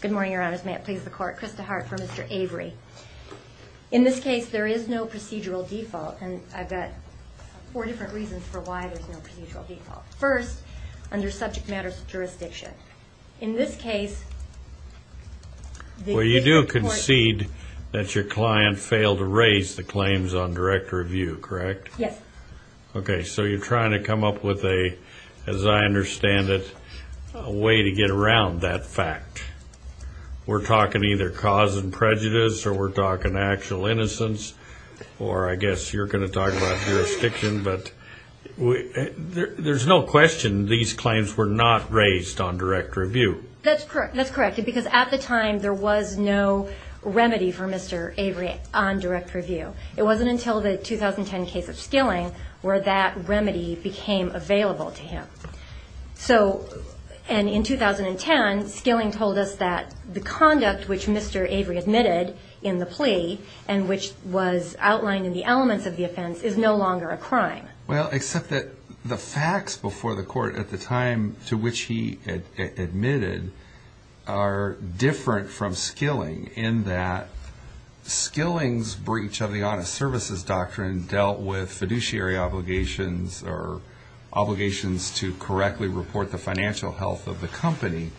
Good morning, your honors. May it please the court, Krista Hart for Mr. Avery. In this case, there is no procedural default, and I've got four different reasons for why there's no procedural default. First, under subject matters of jurisdiction. In this case, the court... Well, you do concede that your client failed to raise the claims on direct review, correct? Yes. Okay, so you're trying to come up with a, as I understand it, a way to get around that fact. We're talking either cause and prejudice, or we're talking actual innocence, or I guess you're going to talk about jurisdiction, but there's no question these claims were not raised on direct review. That's correct. That's correct, because at the time, there was no remedy for Mr. Avery on direct review. It wasn't until the 2010 case of Skilling where that remedy became available to him. So, and in 2010, Skilling told us that the conduct which Mr. Avery admitted in the plea, and which was outlined in the elements of the offense, is no longer a crime. Well, except that the facts before the court at the time to which he admitted are different from Skilling, in that Skilling's breach of the honest services doctrine dealt with fiduciary obligations or obligations to correctly report the financial health of the company.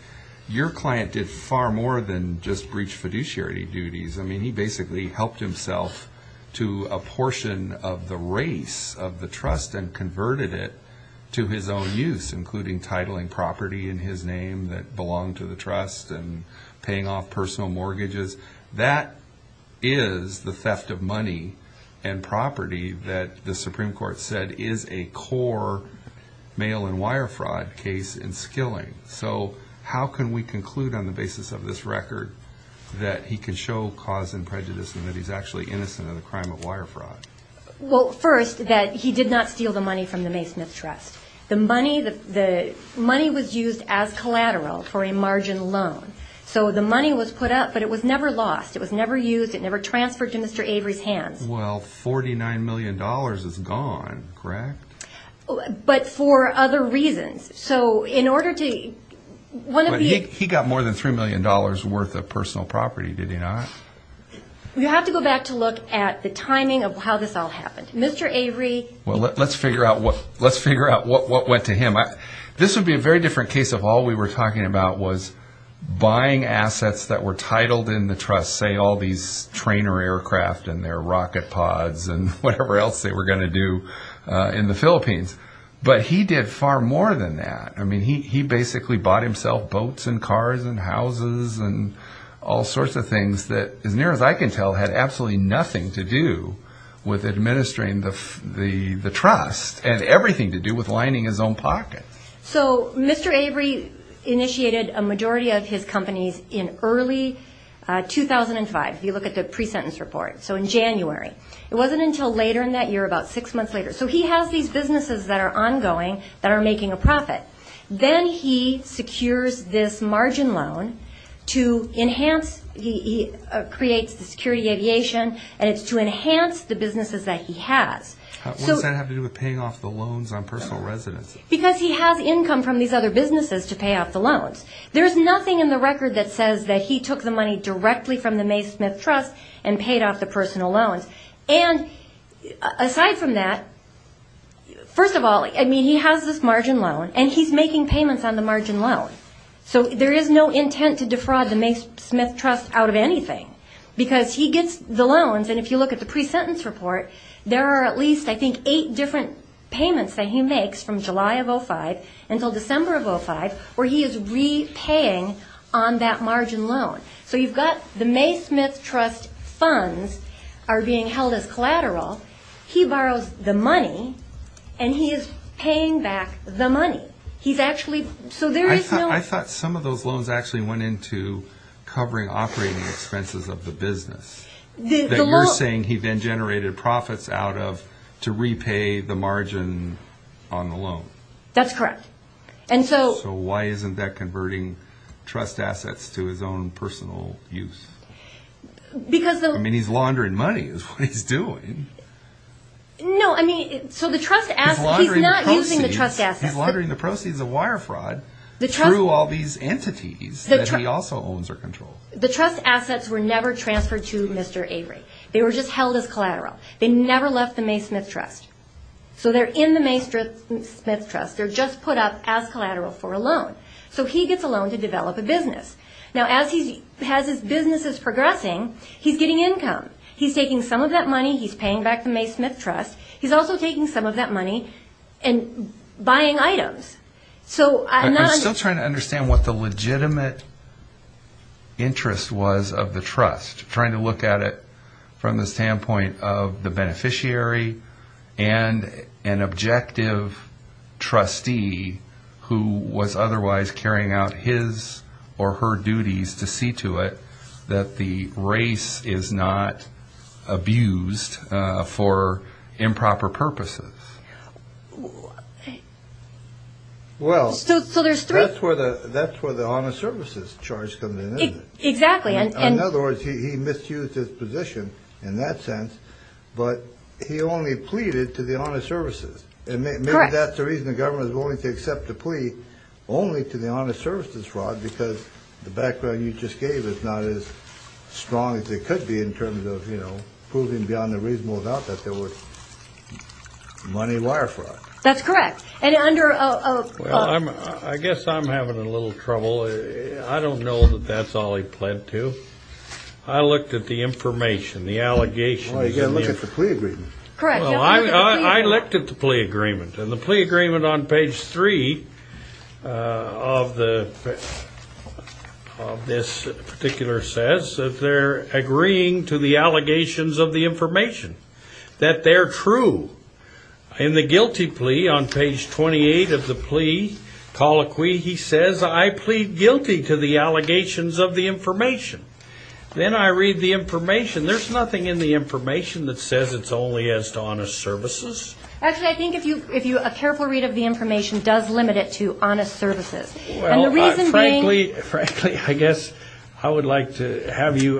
Your client did far more than just breach fiduciary duties. I mean, he basically helped himself to a portion of the race of the trust and converted it to his own use, including titling property in his name that belonged to the trust and paying off personal mortgages. That is the theft of money and property that the Supreme Court said is a core mail and wire fraud case in Skilling. So how can we conclude on the basis of this record that he can show cause and prejudice and that he's actually innocent of the crime of wire fraud? Well, first, that he did not steal the money from the Maysmith Trust. The money was used as collateral for a margin loan. So the money was put up, but it was never lost. It was never used. It never transferred to Mr. Avery's hands. Well, $49 million is gone, correct? But for other reasons. So in order to – But he got more than $3 million worth of personal property, did he not? You have to go back to look at the timing of how this all happened. Well, let's figure out what went to him. This would be a very different case if all we were talking about was buying assets that were titled in the trust, say all these trainer aircraft and their rocket pods and whatever else they were going to do in the Philippines. But he did far more than that. I mean, he basically bought himself boats and cars and houses and all sorts of things that, as near as I can tell, had absolutely nothing to do with administering the trust and everything to do with lining his own pocket. So Mr. Avery initiated a majority of his companies in early 2005. If you look at the pre-sentence report, so in January. It wasn't until later in that year, about six months later. So he has these businesses that are ongoing that are making a profit. Then he secures this margin loan to enhance, he creates the security aviation, and it's to enhance the businesses that he has. What does that have to do with paying off the loans on personal residence? Because he has income from these other businesses to pay off the loans. There's nothing in the record that says that he took the money directly from the Mae Smith Trust and paid off the personal loans. And aside from that, first of all, I mean, he has this margin loan, and he's making payments on the margin loan. So there is no intent to defraud the Mae Smith Trust out of anything, because he gets the loans. And if you look at the pre-sentence report, there are at least, I think, eight different payments that he makes from July of 2005 until December of 2005, where he is repaying on that margin loan. So you've got the Mae Smith Trust funds are being held as collateral. He borrows the money, and he is paying back the money. He's actually – so there is no – I thought some of those loans actually went into covering operating expenses of the business. The loan – That you're saying he then generated profits out of to repay the margin on the loan. That's correct. And so – Because the – I mean, he's laundering money is what he's doing. No, I mean, so the trust – He's laundering the proceeds. He's not using the trust assets. He's laundering the proceeds of wire fraud through all these entities that he also owns or controls. The trust assets were never transferred to Mr. Avery. They were just held as collateral. They never left the Mae Smith Trust. So they're in the Mae Smith Trust. They're just put up as collateral for a loan. So he gets a loan to develop a business. Now, as his business is progressing, he's getting income. He's taking some of that money. He's paying back the Mae Smith Trust. He's also taking some of that money and buying items. So – I'm still trying to understand what the legitimate interest was of the trust, trying to look at it from the standpoint of the beneficiary and an objective trustee who was otherwise carrying out his or her duties to see to it that the race is not abused for improper purposes. Well, that's where the honest services charge comes in, isn't it? Exactly. In other words, he misused his position in that sense, but he only pleaded to the honest services. Correct. And maybe that's the reason the government is willing to accept the plea, only to the honest services fraud, because the background you just gave is not as strong as it could be in terms of proving beyond a reasonable doubt that there was money wire fraud. That's correct. And under a – Well, I guess I'm having a little trouble. I don't know that that's all he pled to. I looked at the information, the allegations. Oh, you've got to look at the plea agreement. Correct. Well, I looked at the plea agreement, and the plea agreement on page 3 of this particular says that they're agreeing to the allegations of the information, that they're true. In the guilty plea on page 28 of the plea colloquy, he says, I plead guilty to the allegations of the information. Then I read the information. There's nothing in the information that says it's only as to honest services. Actually, I think if you – a careful read of the information does limit it to honest services. And the reason being – Frankly, I guess I would like to have you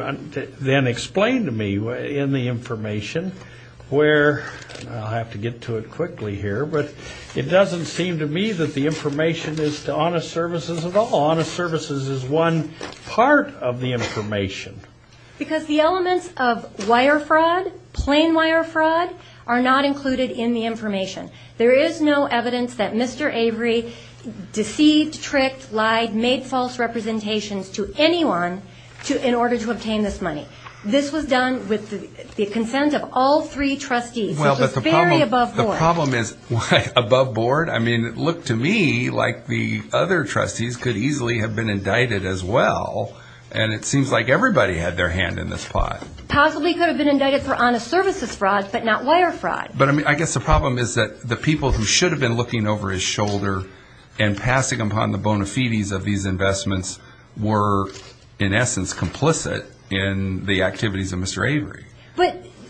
then explain to me in the information where – I'll have to get to it quickly here. But it doesn't seem to me that the information is to honest services at all. Honest services is one part of the information. Because the elements of wire fraud, plain wire fraud, are not included in the information. There is no evidence that Mr. Avery deceived, tricked, lied, made false representations to anyone in order to obtain this money. This was done with the consent of all three trustees, which is very above board. The problem is – above board? I mean, it looked to me like the other trustees could easily have been indicted as well. And it seems like everybody had their hand in this pot. Possibly could have been indicted for honest services fraud, but not wire fraud. But I guess the problem is that the people who should have been looking over his shoulder and passing upon the bona fides of these investments were, in essence, complicit in the activities of Mr. Avery.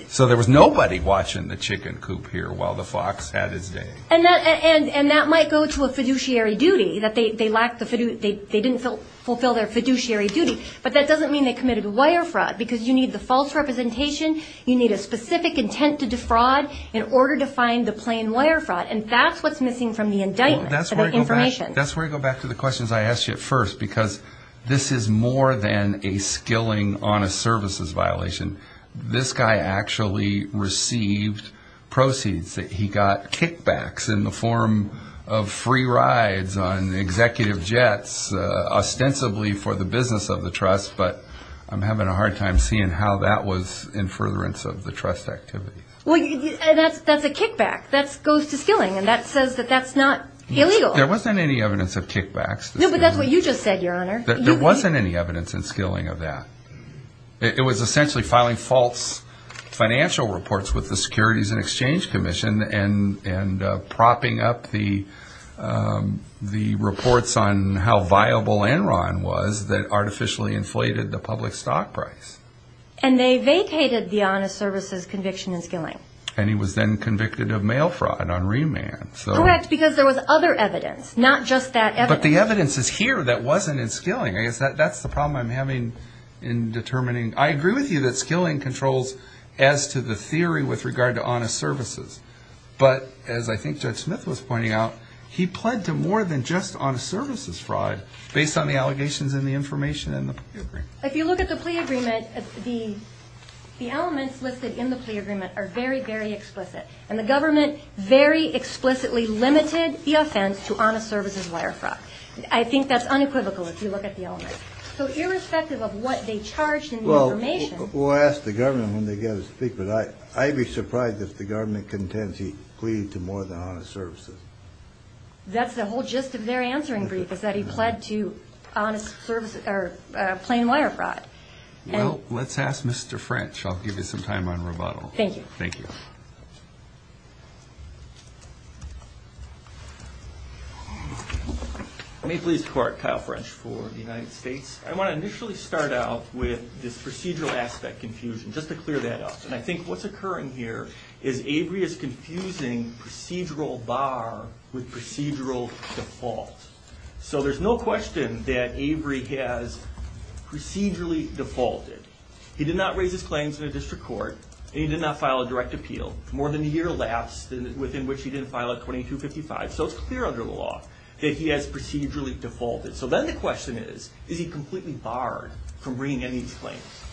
So there was nobody watching the chicken coop here while the fox had his day. And that might go to a fiduciary duty. They didn't fulfill their fiduciary duty. But that doesn't mean they committed wire fraud, because you need the false representation. You need a specific intent to defraud in order to find the plain wire fraud. And that's what's missing from the indictment, the information. That's where I go back to the questions I asked you at first, because this is more than a skilling honest services violation. This guy actually received proceeds. He got kickbacks in the form of free rides on executive jets, ostensibly for the business of the trust. But I'm having a hard time seeing how that was in furtherance of the trust activity. Well, that's a kickback. That goes to skilling, and that says that that's not illegal. There wasn't any evidence of kickbacks. No, but that's what you just said, Your Honor. There wasn't any evidence in skilling of that. It was essentially filing false financial reports with the Securities and Exchange Commission and propping up the reports on how viable Enron was that artificially inflated the public stock price. And they vacated the honest services conviction in skilling. And he was then convicted of mail fraud on remand. Correct, because there was other evidence, not just that evidence. But the evidence is here that wasn't in skilling. I guess that's the problem I'm having in determining. I agree with you that skilling controls as to the theory with regard to honest services. But as I think Judge Smith was pointing out, he pled to more than just honest services fraud based on the allegations and the information in the plea agreement. If you look at the plea agreement, the elements listed in the plea agreement are very, very explicit. And the government very explicitly limited the offense to honest services wire fraud. I think that's unequivocal if you look at the elements. So irrespective of what they charged in the information. Well, we'll ask the government when they get us to speak, but I'd be surprised if the government contends he pleaded to more than honest services. That's the whole gist of their answering brief, is that he pled to plain wire fraud. Well, let's ask Mr. French. I'll give you some time on rebuttal. Thank you. Thank you. May it please the Court, Kyle French for the United States. I want to initially start out with this procedural aspect confusion, just to clear that up. And I think what's occurring here is Avery is confusing procedural bar with procedural default. So there's no question that Avery has procedurally defaulted. He did not raise his claims in a district court, and he did not file a direct appeal, more than a year less within which he didn't file a 2255. So it's clear under the law that he has procedurally defaulted. So then the question is, is he completely barred from bringing any of these claims?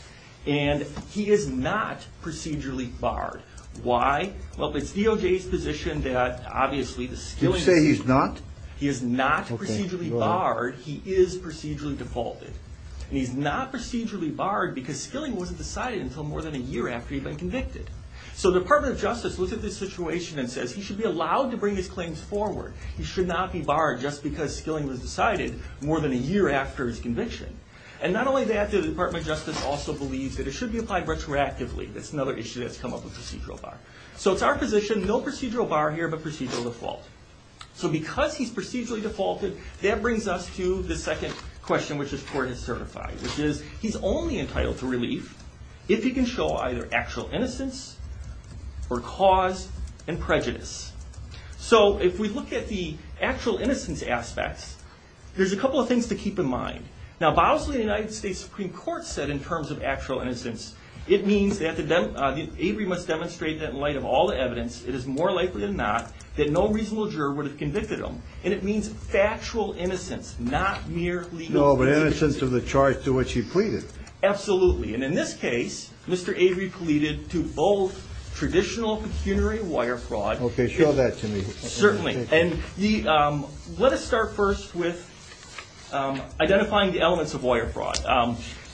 And he is not procedurally barred. Why? Well, it's DOJ's position that, obviously, the skilling. Did you say he's not? He is not procedurally barred. He is procedurally defaulted. And he's not procedurally barred because skilling wasn't decided until more than a year after he'd been convicted. So the Department of Justice looks at this situation and says he should be allowed to bring his claims forward. He should not be barred just because skilling was decided more than a year after his conviction. And not only that, the Department of Justice also believes that it should be applied retroactively. That's another issue that's come up with procedural bar. So it's our position, no procedural bar here, but procedural default. So because he's procedurally defaulted, that brings us to the second question, which this court has certified, which is he's only entitled to relief if he can show either actual innocence or cause and prejudice. So if we look at the actual innocence aspects, there's a couple of things to keep in mind. Now, Bosley and the United States Supreme Court said in terms of actual innocence, it means that Avery must demonstrate that in light of all the evidence, it is more likely than not that no reasonable juror would have convicted him. And it means factual innocence, not mere legal innocence. No, but innocence of the charge to which he pleaded. Absolutely. And in this case, Mr. Avery pleaded to both traditional pecuniary wire fraud. Okay, show that to me. Certainly. And let us start first with identifying the elements of wire fraud.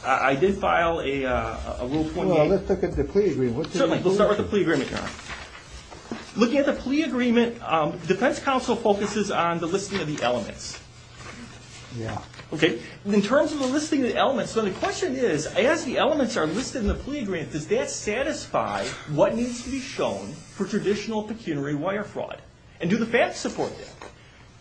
I did file a Rule 28. Well, let's look at the plea agreement. Certainly. We'll start with the plea agreement. Looking at the plea agreement, defense counsel focuses on the listing of the elements. In terms of the listing of the elements, the question is, as the elements are listed in the plea agreement, does that satisfy what needs to be shown for traditional pecuniary wire fraud? And do the facts support that?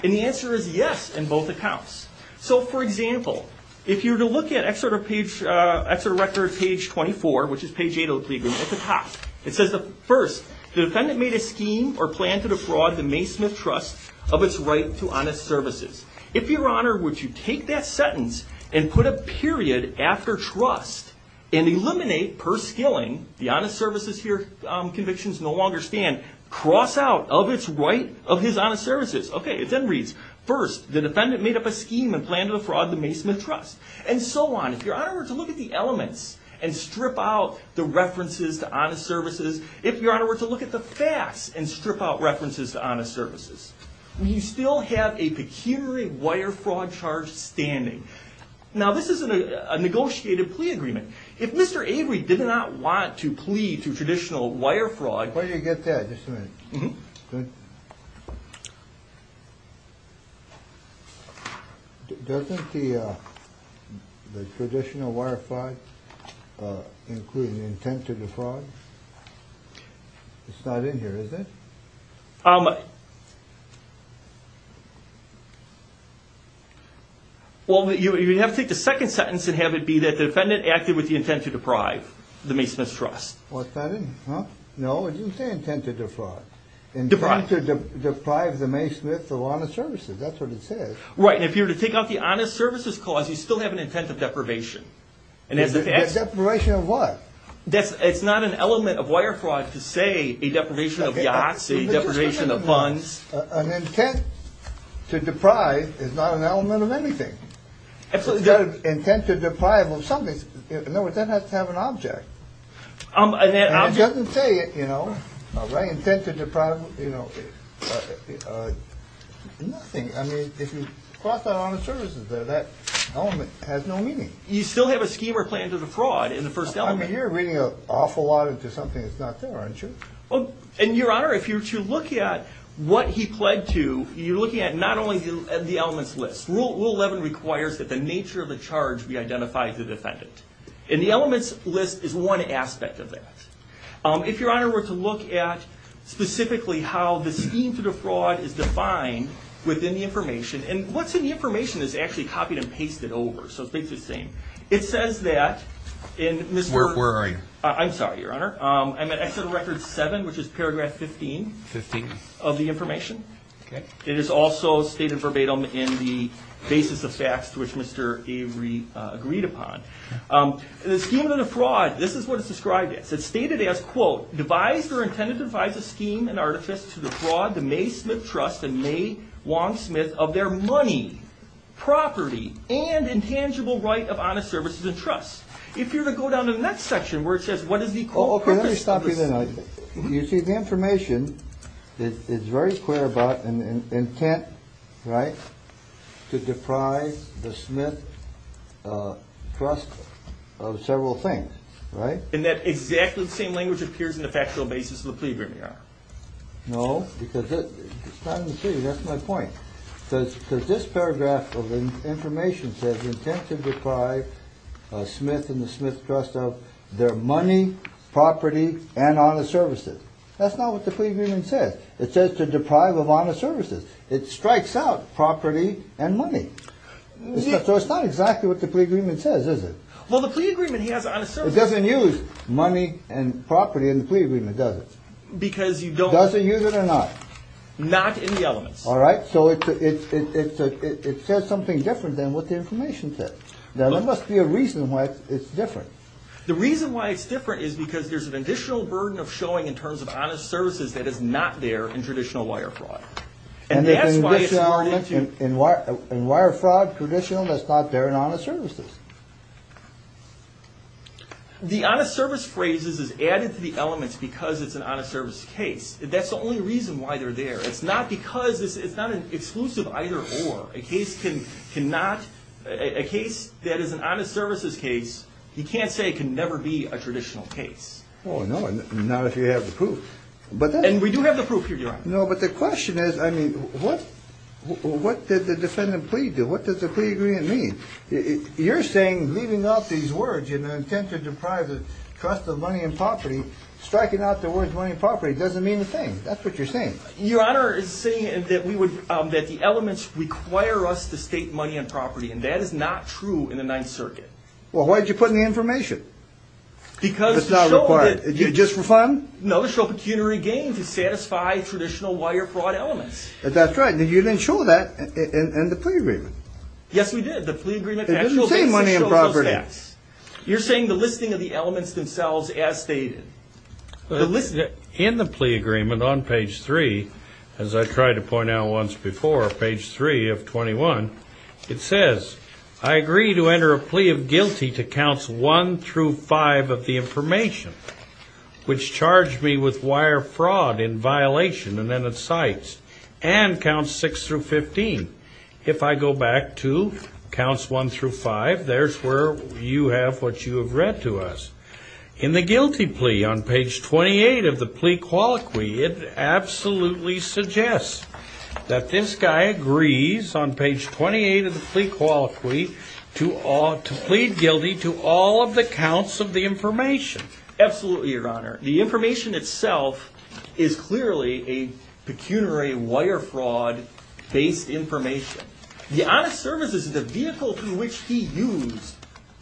And the answer is yes in both accounts. So, for example, if you were to look at Exeter Record page 24, which is page 8 of the plea agreement, at the top, it says, first, the defendant made a scheme or planned to defraud the Maysmith Trust of its right to honest services. If your honor, would you take that sentence and put a period after trust and eliminate, per skilling, the honest services here convictions no longer stand, cross out of its right of his honest services. Okay, it then reads, first, the defendant made up a scheme and planned to defraud the Maysmith Trust, and so on. If your honor were to look at the elements and strip out the references to honest services, if your honor were to look at the facts and strip out references to honest services, you still have a pecuniary wire fraud charge standing. Now, this is a negotiated plea agreement. If Mr. Avery did not want to plea to traditional wire fraud. Where did you get that? Just a minute. Doesn't the traditional wire fraud include the intent to defraud? It's not in here, is it? Well, you'd have to take the second sentence and have it be that the defendant acted with the intent to deprive the Maysmith's Trust. No, it didn't say intent to defraud. Intent to deprive the Maysmith of honest services, that's what it says. Right, and if you were to take out the honest services clause, you still have an intent of deprivation. Deprivation of what? It's not an element of wire fraud to say a deprivation of yachts, a deprivation of funds. An intent to deprive is not an element of anything. It's got an intent to deprive of something. In other words, that has to have an object. And it doesn't say, you know, intent to deprive of nothing. I mean, if you cross out honest services there, that element has no meaning. You still have a scheme or plan to defraud in the first element. I mean, you're reading an awful lot into something that's not there, aren't you? Well, and Your Honor, if you're looking at what he pled to, you're looking at not only the elements list. Rule 11 requires that the nature of the charge be identified to the defendant. And the elements list is one aspect of that. If Your Honor were to look at specifically how the scheme to defraud is defined within the information, and what's in the information is actually copied and pasted over. So it's basically the same. It says that in this work. Where are you? I'm sorry, Your Honor. I'm at Exit Record 7, which is paragraph 15. Fifteen. Of the information. Okay. It is also stated verbatim in the basis of facts to which Mr. Avery agreed upon. The scheme to defraud, this is what it's described as. It's stated as, quote, devised or intended to devise a scheme and artifice to defraud the May Smith Trust and May Wong Smith of their money, property, and intangible right of honest services and trust. If you were to go down to the next section, where it says what is the, quote, purpose of this. Okay, let me stop you there. You see, the information is very clear about an intent, right, to deprive the Smith Trust of several things, right? In that exactly the same language appears in the factual basis of the plea, Your Honor. No, because it's not in the plea. That's my point. Because this paragraph of the information says intent to deprive Smith and the Smith Trust of their money, property, and honest services. That's not what the plea agreement says. It says to deprive of honest services. It strikes out property and money. So it's not exactly what the plea agreement says, is it? Well, the plea agreement has honest services. It doesn't use money and property in the plea agreement, does it? Because you don't. It doesn't use it or not? Not in the elements. All right. So it says something different than what the information says. There must be a reason why it's different. The reason why it's different is because there's an additional burden of showing in terms of honest services that is not there in traditional wire fraud. And that's why it's not there. And there's an additional element in wire fraud, traditional, that's not there in honest services. The honest service phrase is added to the elements because it's an honest service case. That's the only reason why they're there. It's not because it's not an exclusive either or. A case that is an honest services case, you can't say it can never be a traditional case. Oh, no, not if you have the proof. And we do have the proof, Your Honor. No, but the question is, I mean, what did the defendant plead to? What does the plea agreement mean? You're saying leaving out these words in an attempt to deprive the trust of money and property, striking out the words money and property doesn't mean a thing. That's what you're saying. Your Honor is saying that we would, that the elements require us to state money and property. And that is not true in the Ninth Circuit. Well, why did you put in the information? Because it's not required. Just for fun? No, to show pecuniary gain, to satisfy traditional wire fraud elements. That's right. You didn't show that in the plea agreement. Yes, we did. The plea agreement actually shows those facts. It doesn't say money and property. You're saying the listing of the elements themselves as stated. In the plea agreement on page 3, as I tried to point out once before, page 3 of 21, it says, I agree to enter a plea of guilty to counts 1 through 5 of the information, which charged me with wire fraud in violation, and then it cites, and counts 6 through 15. If I go back to counts 1 through 5, there's where you have what you have read to us. In the guilty plea on page 28 of the plea colloquy, it absolutely suggests that this guy agrees, on page 28 of the plea colloquy, to plead guilty to all of the counts of the information. Absolutely, Your Honor. The information itself is clearly a pecuniary wire fraud-based information. The honest services is the vehicle through which he used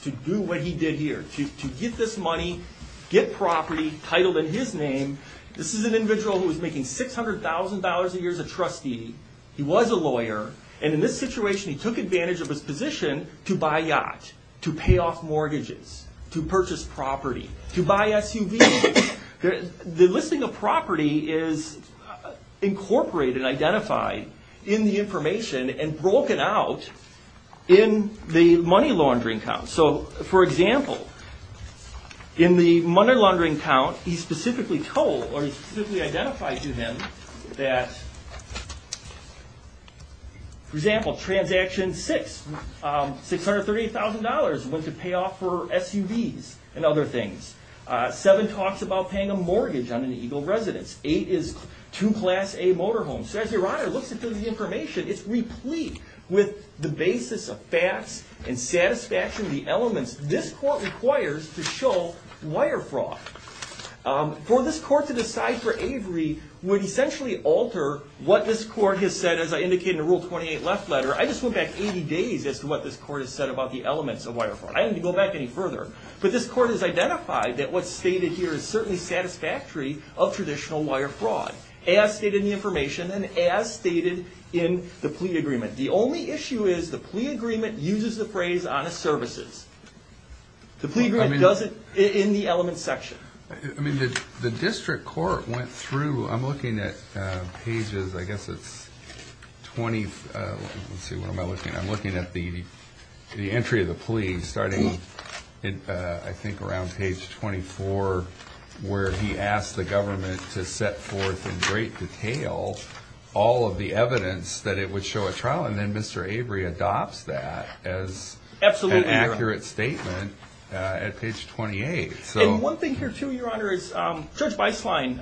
to do what he did here, to get this money, get property titled in his name. This is an individual who was making $600,000 a year as a trustee. He was a lawyer, and in this situation, he took advantage of his position to buy a yacht, to pay off mortgages, to purchase property, to buy SUVs. The listing of property is incorporated and identified in the information, and broken out in the money laundering count. For example, in the money laundering count, he specifically told, or he specifically identified to him that, for example, transaction 6, $630,000 went to pay off for SUVs and other things. 7 talks about paying a mortgage on an Eagle residence. 8 is to Class A motorhome. So as Your Honor looks at the information, it's replete with the basis of facts and satisfaction of the elements this court requires to show wire fraud. For this court to decide for Avery would essentially alter what this court has said, as I indicated in Rule 28, Left Letter. I just went back 80 days as to what this court has said about the elements of wire fraud. I didn't go back any further, but this court has identified that what's stated here is certainly satisfactory of traditional wire fraud, as stated in the information and as stated in the plea agreement. The only issue is the plea agreement uses the phrase, honest services. The plea agreement doesn't, in the elements section. I mean, the district court went through, I'm looking at pages, I guess it's 20, let's see, what am I looking at? I'm looking at the entry of the plea, starting, I think, around page 24, where he asked the government to set forth in great detail all of the evidence that it would show at trial. And then Mr. Avery adopts that as an accurate statement at page 28. And one thing here, too, Your Honor, is Judge Beislein,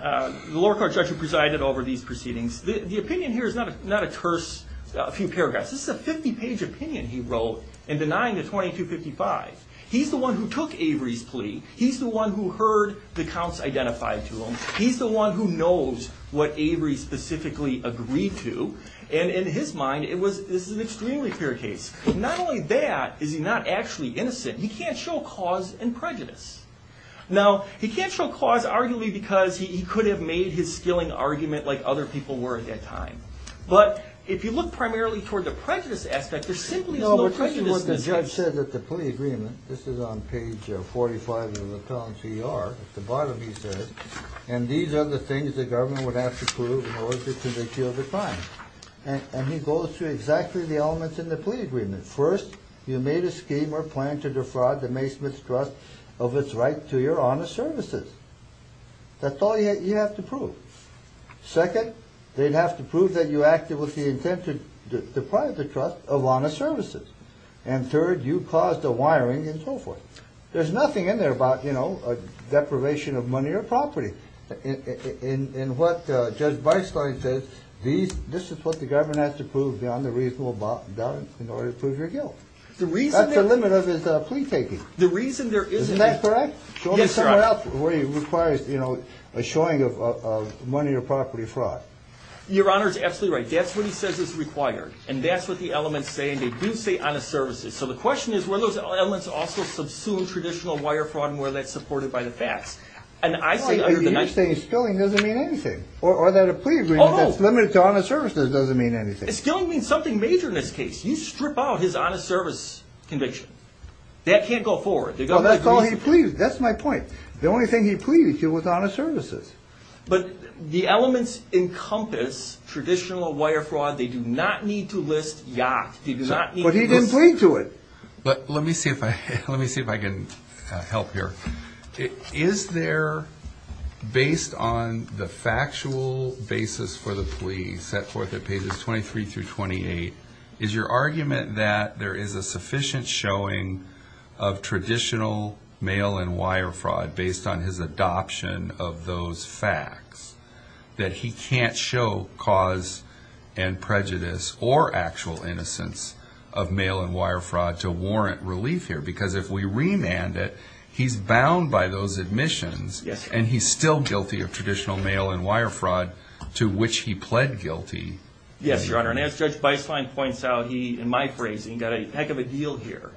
the lower court judge who presided over these proceedings, the opinion here is not a curse, a few paragraphs. This is a 50-page opinion he wrote in denying the 2255. He's the one who took Avery's plea. He's the one who heard the counts identified to him. He's the one who knows what Avery specifically agreed to. And in his mind, this is an extremely fair case. Not only that, is he not actually innocent. He can't show cause and prejudice. Now, he can't show cause, arguably, because he could have made his skilling argument like other people were at that time. But if you look primarily toward the prejudice aspect, there simply is no prejudice in this case. No, but this is what the judge said at the plea agreement. This is on page 45 of the Plano C.E.R., at the bottom he says, and these are the things the government would have to prove in order to convict you of a crime. And he goes through exactly the elements in the plea agreement. First, you made a scheme or plan to defraud the Maysmith's Trust of its right to your honest services. That's all you have to prove. Second, they'd have to prove that you acted with the intent to deprive the Trust of honest services. And third, you caused a wiring and so forth. There's nothing in there about deprivation of money or property. And what Judge Beistlein says, this is what the government has to prove beyond the reasonable doubt in order to prove your guilt. That's the limit of his plea taking. Isn't that correct? Yes, Your Honor. Show me somewhere else where he requires a showing of money or property fraud. Your Honor is absolutely right. That's what he says is required, and that's what the elements say, and they do say honest services. So the question is, were those elements also subsumed traditional wire fraud, and were that supported by the facts? You're saying skilling doesn't mean anything. Or that a plea agreement that's limited to honest services doesn't mean anything. Skilling means something major in this case. You strip out his honest service conviction. That can't go forward. That's all he pleaded. That's my point. The only thing he pleaded to was honest services. But the elements encompass traditional wire fraud. They do not need to list yacht. But he didn't plead to it. Let me see if I can help here. Is there, based on the factual basis for the plea set forth at pages 23 through 28, is your argument that there is a sufficient showing of traditional mail and wire fraud based on his adoption of those facts, that he can't show cause and prejudice or actual innocence of mail and wire fraud to warrant relief here? Because if we remand it, he's bound by those admissions. And he's still guilty of traditional mail and wire fraud, to which he pled guilty. Yes, Your Honor. And as Judge Beislein points out, he, in my phrasing, got a heck of a deal here.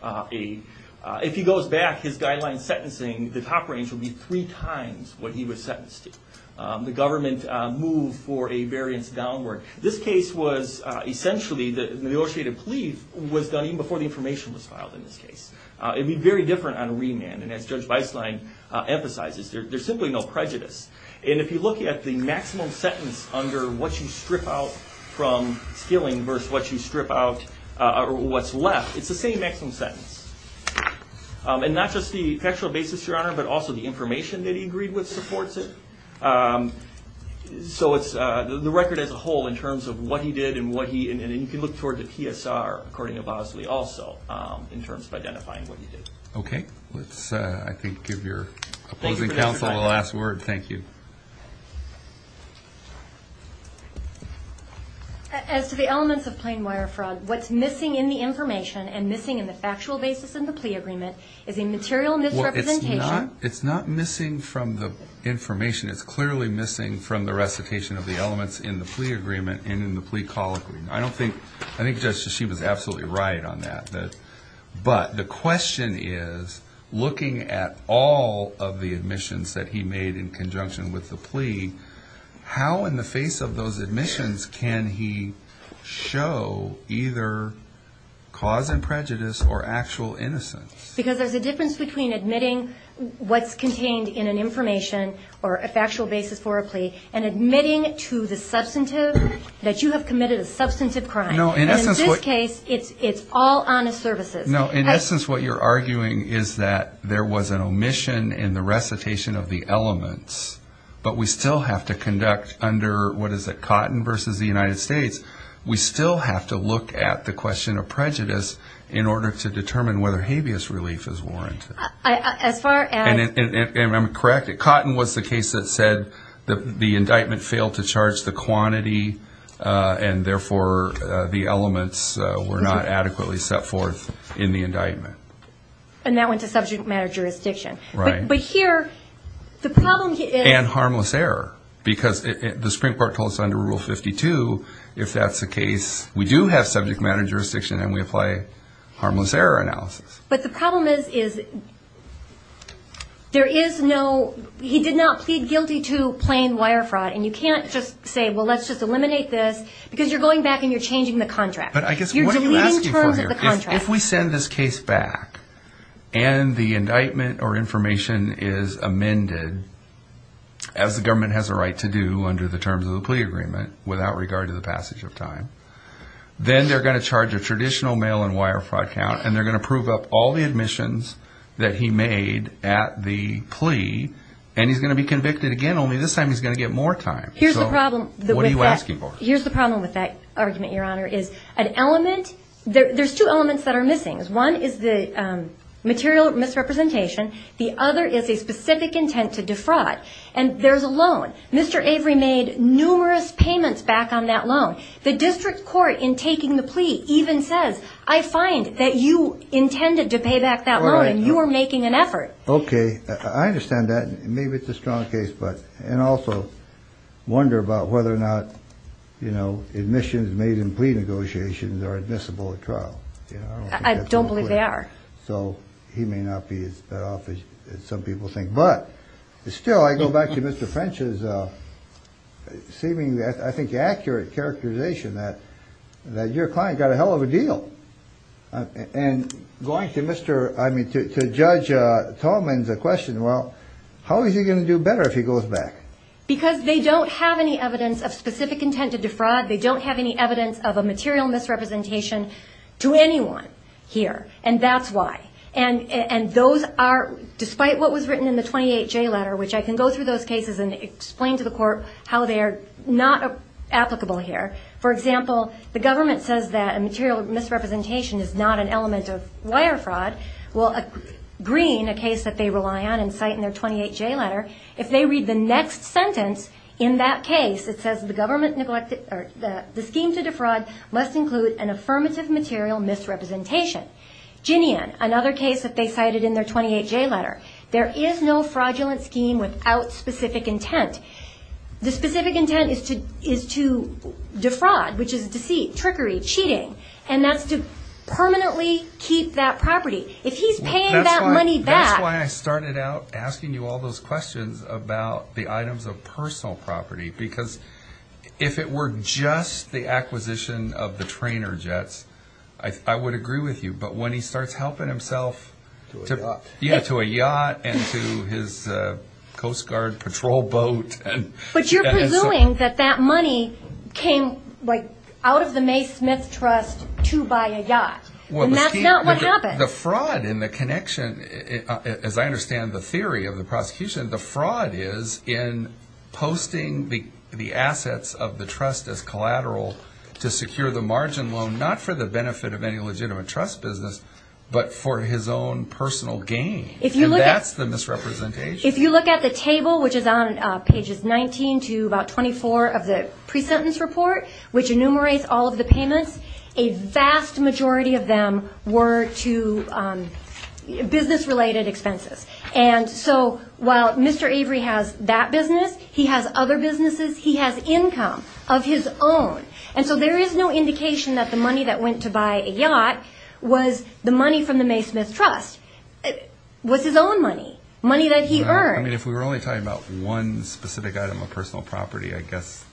If he goes back, his guideline sentencing, the top range would be three times what he was sentenced to. The government moved for a variance downward. This case was essentially, the negotiated plea was done even before the information was filed in this case. It would be very different on remand. And as Judge Beislein emphasizes, there's simply no prejudice. And if you look at the maximum sentence under what you strip out from stealing versus what you strip out or what's left, it's the same maximum sentence. And not just the factual basis, Your Honor, but also the information that he agreed with supports it. So it's the record as a whole in terms of what he did and what he, and you can look toward the PSR, according to Beislein also, in terms of identifying what he did. Okay. Let's, I think, give your opposing counsel the last word. Thank you. As to the elements of plain wire fraud, what's missing in the information and missing in the factual basis in the plea agreement is a material misrepresentation. It's not missing from the information. It's clearly missing from the recitation of the elements in the plea agreement and in the plea colloquy. I don't think, I think Judge Shishim is absolutely right on that. But the question is, looking at all of the admissions that he made in conjunction with the plea, how in the face of those admissions can he show either cause and prejudice or actual innocence? Because there's a difference between admitting what's contained in an information or a factual basis for a plea and admitting to the substantive that you have committed a substantive crime. And in this case, it's all honest services. No. In essence, what you're arguing is that there was an omission in the recitation of the elements, but we still have to conduct under, what is it, Cotton versus the United States, we still have to look at the question of prejudice in order to determine whether habeas relief is warranted. As far as? And I'm correct. Cotton was the case that said the indictment failed to charge the quantity and therefore the elements were not adequately set forth in the indictment. And that went to subject matter jurisdiction. Right. But here, the problem is. And harmless error, because the Supreme Court told us under Rule 52, if that's the case, we do have subject matter jurisdiction and we apply harmless error analysis. But the problem is there is no, he did not plead guilty to plain wire fraud, and you can't just say, well, let's just eliminate this, because you're going back and you're changing the contract. But I guess what you're asking for here, if we send this case back and the indictment or information is amended, as the government has a right to do under the terms of the plea agreement, without regard to the passage of time, then they're going to charge a traditional mail and wire fraud count and they're going to prove up all the admissions that he made at the plea, and he's going to be convicted again, only this time he's going to get more time. So what are you asking for? Here's the problem with that argument, Your Honor, is an element, there's two elements that are missing. One is the material misrepresentation. The other is a specific intent to defraud. And there's a loan. Mr. Avery made numerous payments back on that loan. The district court, in taking the plea, even says, I find that you intended to pay back that loan and you are making an effort. Okay. I understand that. Maybe it's a strong case, but, and also wonder about whether or not, you know, admissions made in plea negotiations are admissible at trial. I don't believe they are. So he may not be as bad off as some people think. But still, I go back to Mr. French's seeming, I think, accurate characterization that your client got a hell of a deal. And going to Mr., I mean, to Judge Tallman's question, well, how is he going to do better if he goes back? Because they don't have any evidence of specific intent to defraud. They don't have any evidence of a material misrepresentation to anyone here. And that's why. And those are, despite what was written in the 28J letter, which I can go through those cases and explain to the court how they are not applicable here. For example, the government says that a material misrepresentation is not an element of wire fraud. Well, Green, a case that they rely on and cite in their 28J letter, if they read the next sentence in that case, it says the scheme to defraud must include an affirmative material misrepresentation. Ginian, another case that they cited in their 28J letter, there is no fraudulent scheme without specific intent. The specific intent is to defraud, which is deceit, trickery, cheating, and that's to permanently keep that property. If he's paying that money back. That's why I started out asking you all those questions about the items of personal property because if it were just the acquisition of the trainer jets, I would agree with you. But when he starts helping himself to a yacht and to his Coast Guard patrol boat. But you're presuming that that money came out of the May Smith Trust to buy a yacht. And that's not what happened. The fraud in the connection, as I understand the theory of the prosecution, the fraud is in posting the assets of the trust as collateral to secure the margin loan, not for the benefit of any legitimate trust business, but for his own personal gain. And that's the misrepresentation. If you look at the table, which is on pages 19 to about 24 of the presentence report, which enumerates all of the payments, a vast majority of them were to business-related expenses. And so while Mr. Avery has that business, he has other businesses. He has income of his own. And so there is no indication that the money that went to buy a yacht was the money from the May Smith Trust. It was his own money, money that he earned. I mean, if we were only talking about one specific item of personal property, I guess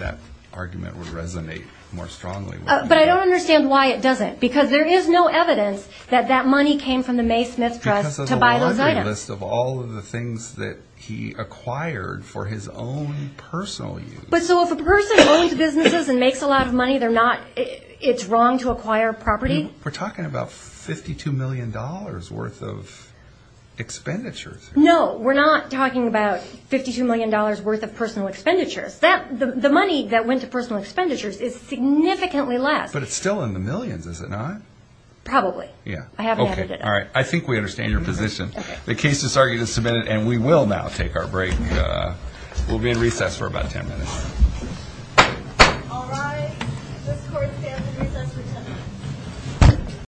that argument would resonate more strongly. But I don't understand why it doesn't. Because there is no evidence that that money came from the May Smith Trust to buy those items. Because of the laundry list of all of the things that he acquired for his own personal use. But so if a person owns businesses and makes a lot of money, it's wrong to acquire property? We're talking about $52 million worth of expenditures. No, we're not talking about $52 million worth of personal expenditures. The money that went to personal expenditures is significantly less. But it's still in the millions, is it not? Probably. I haven't added it up. I think we understand your position. The case is submitted and we will now take our break. We'll be in recess for about 10 minutes. All rise. This court is now in recess for 10 minutes.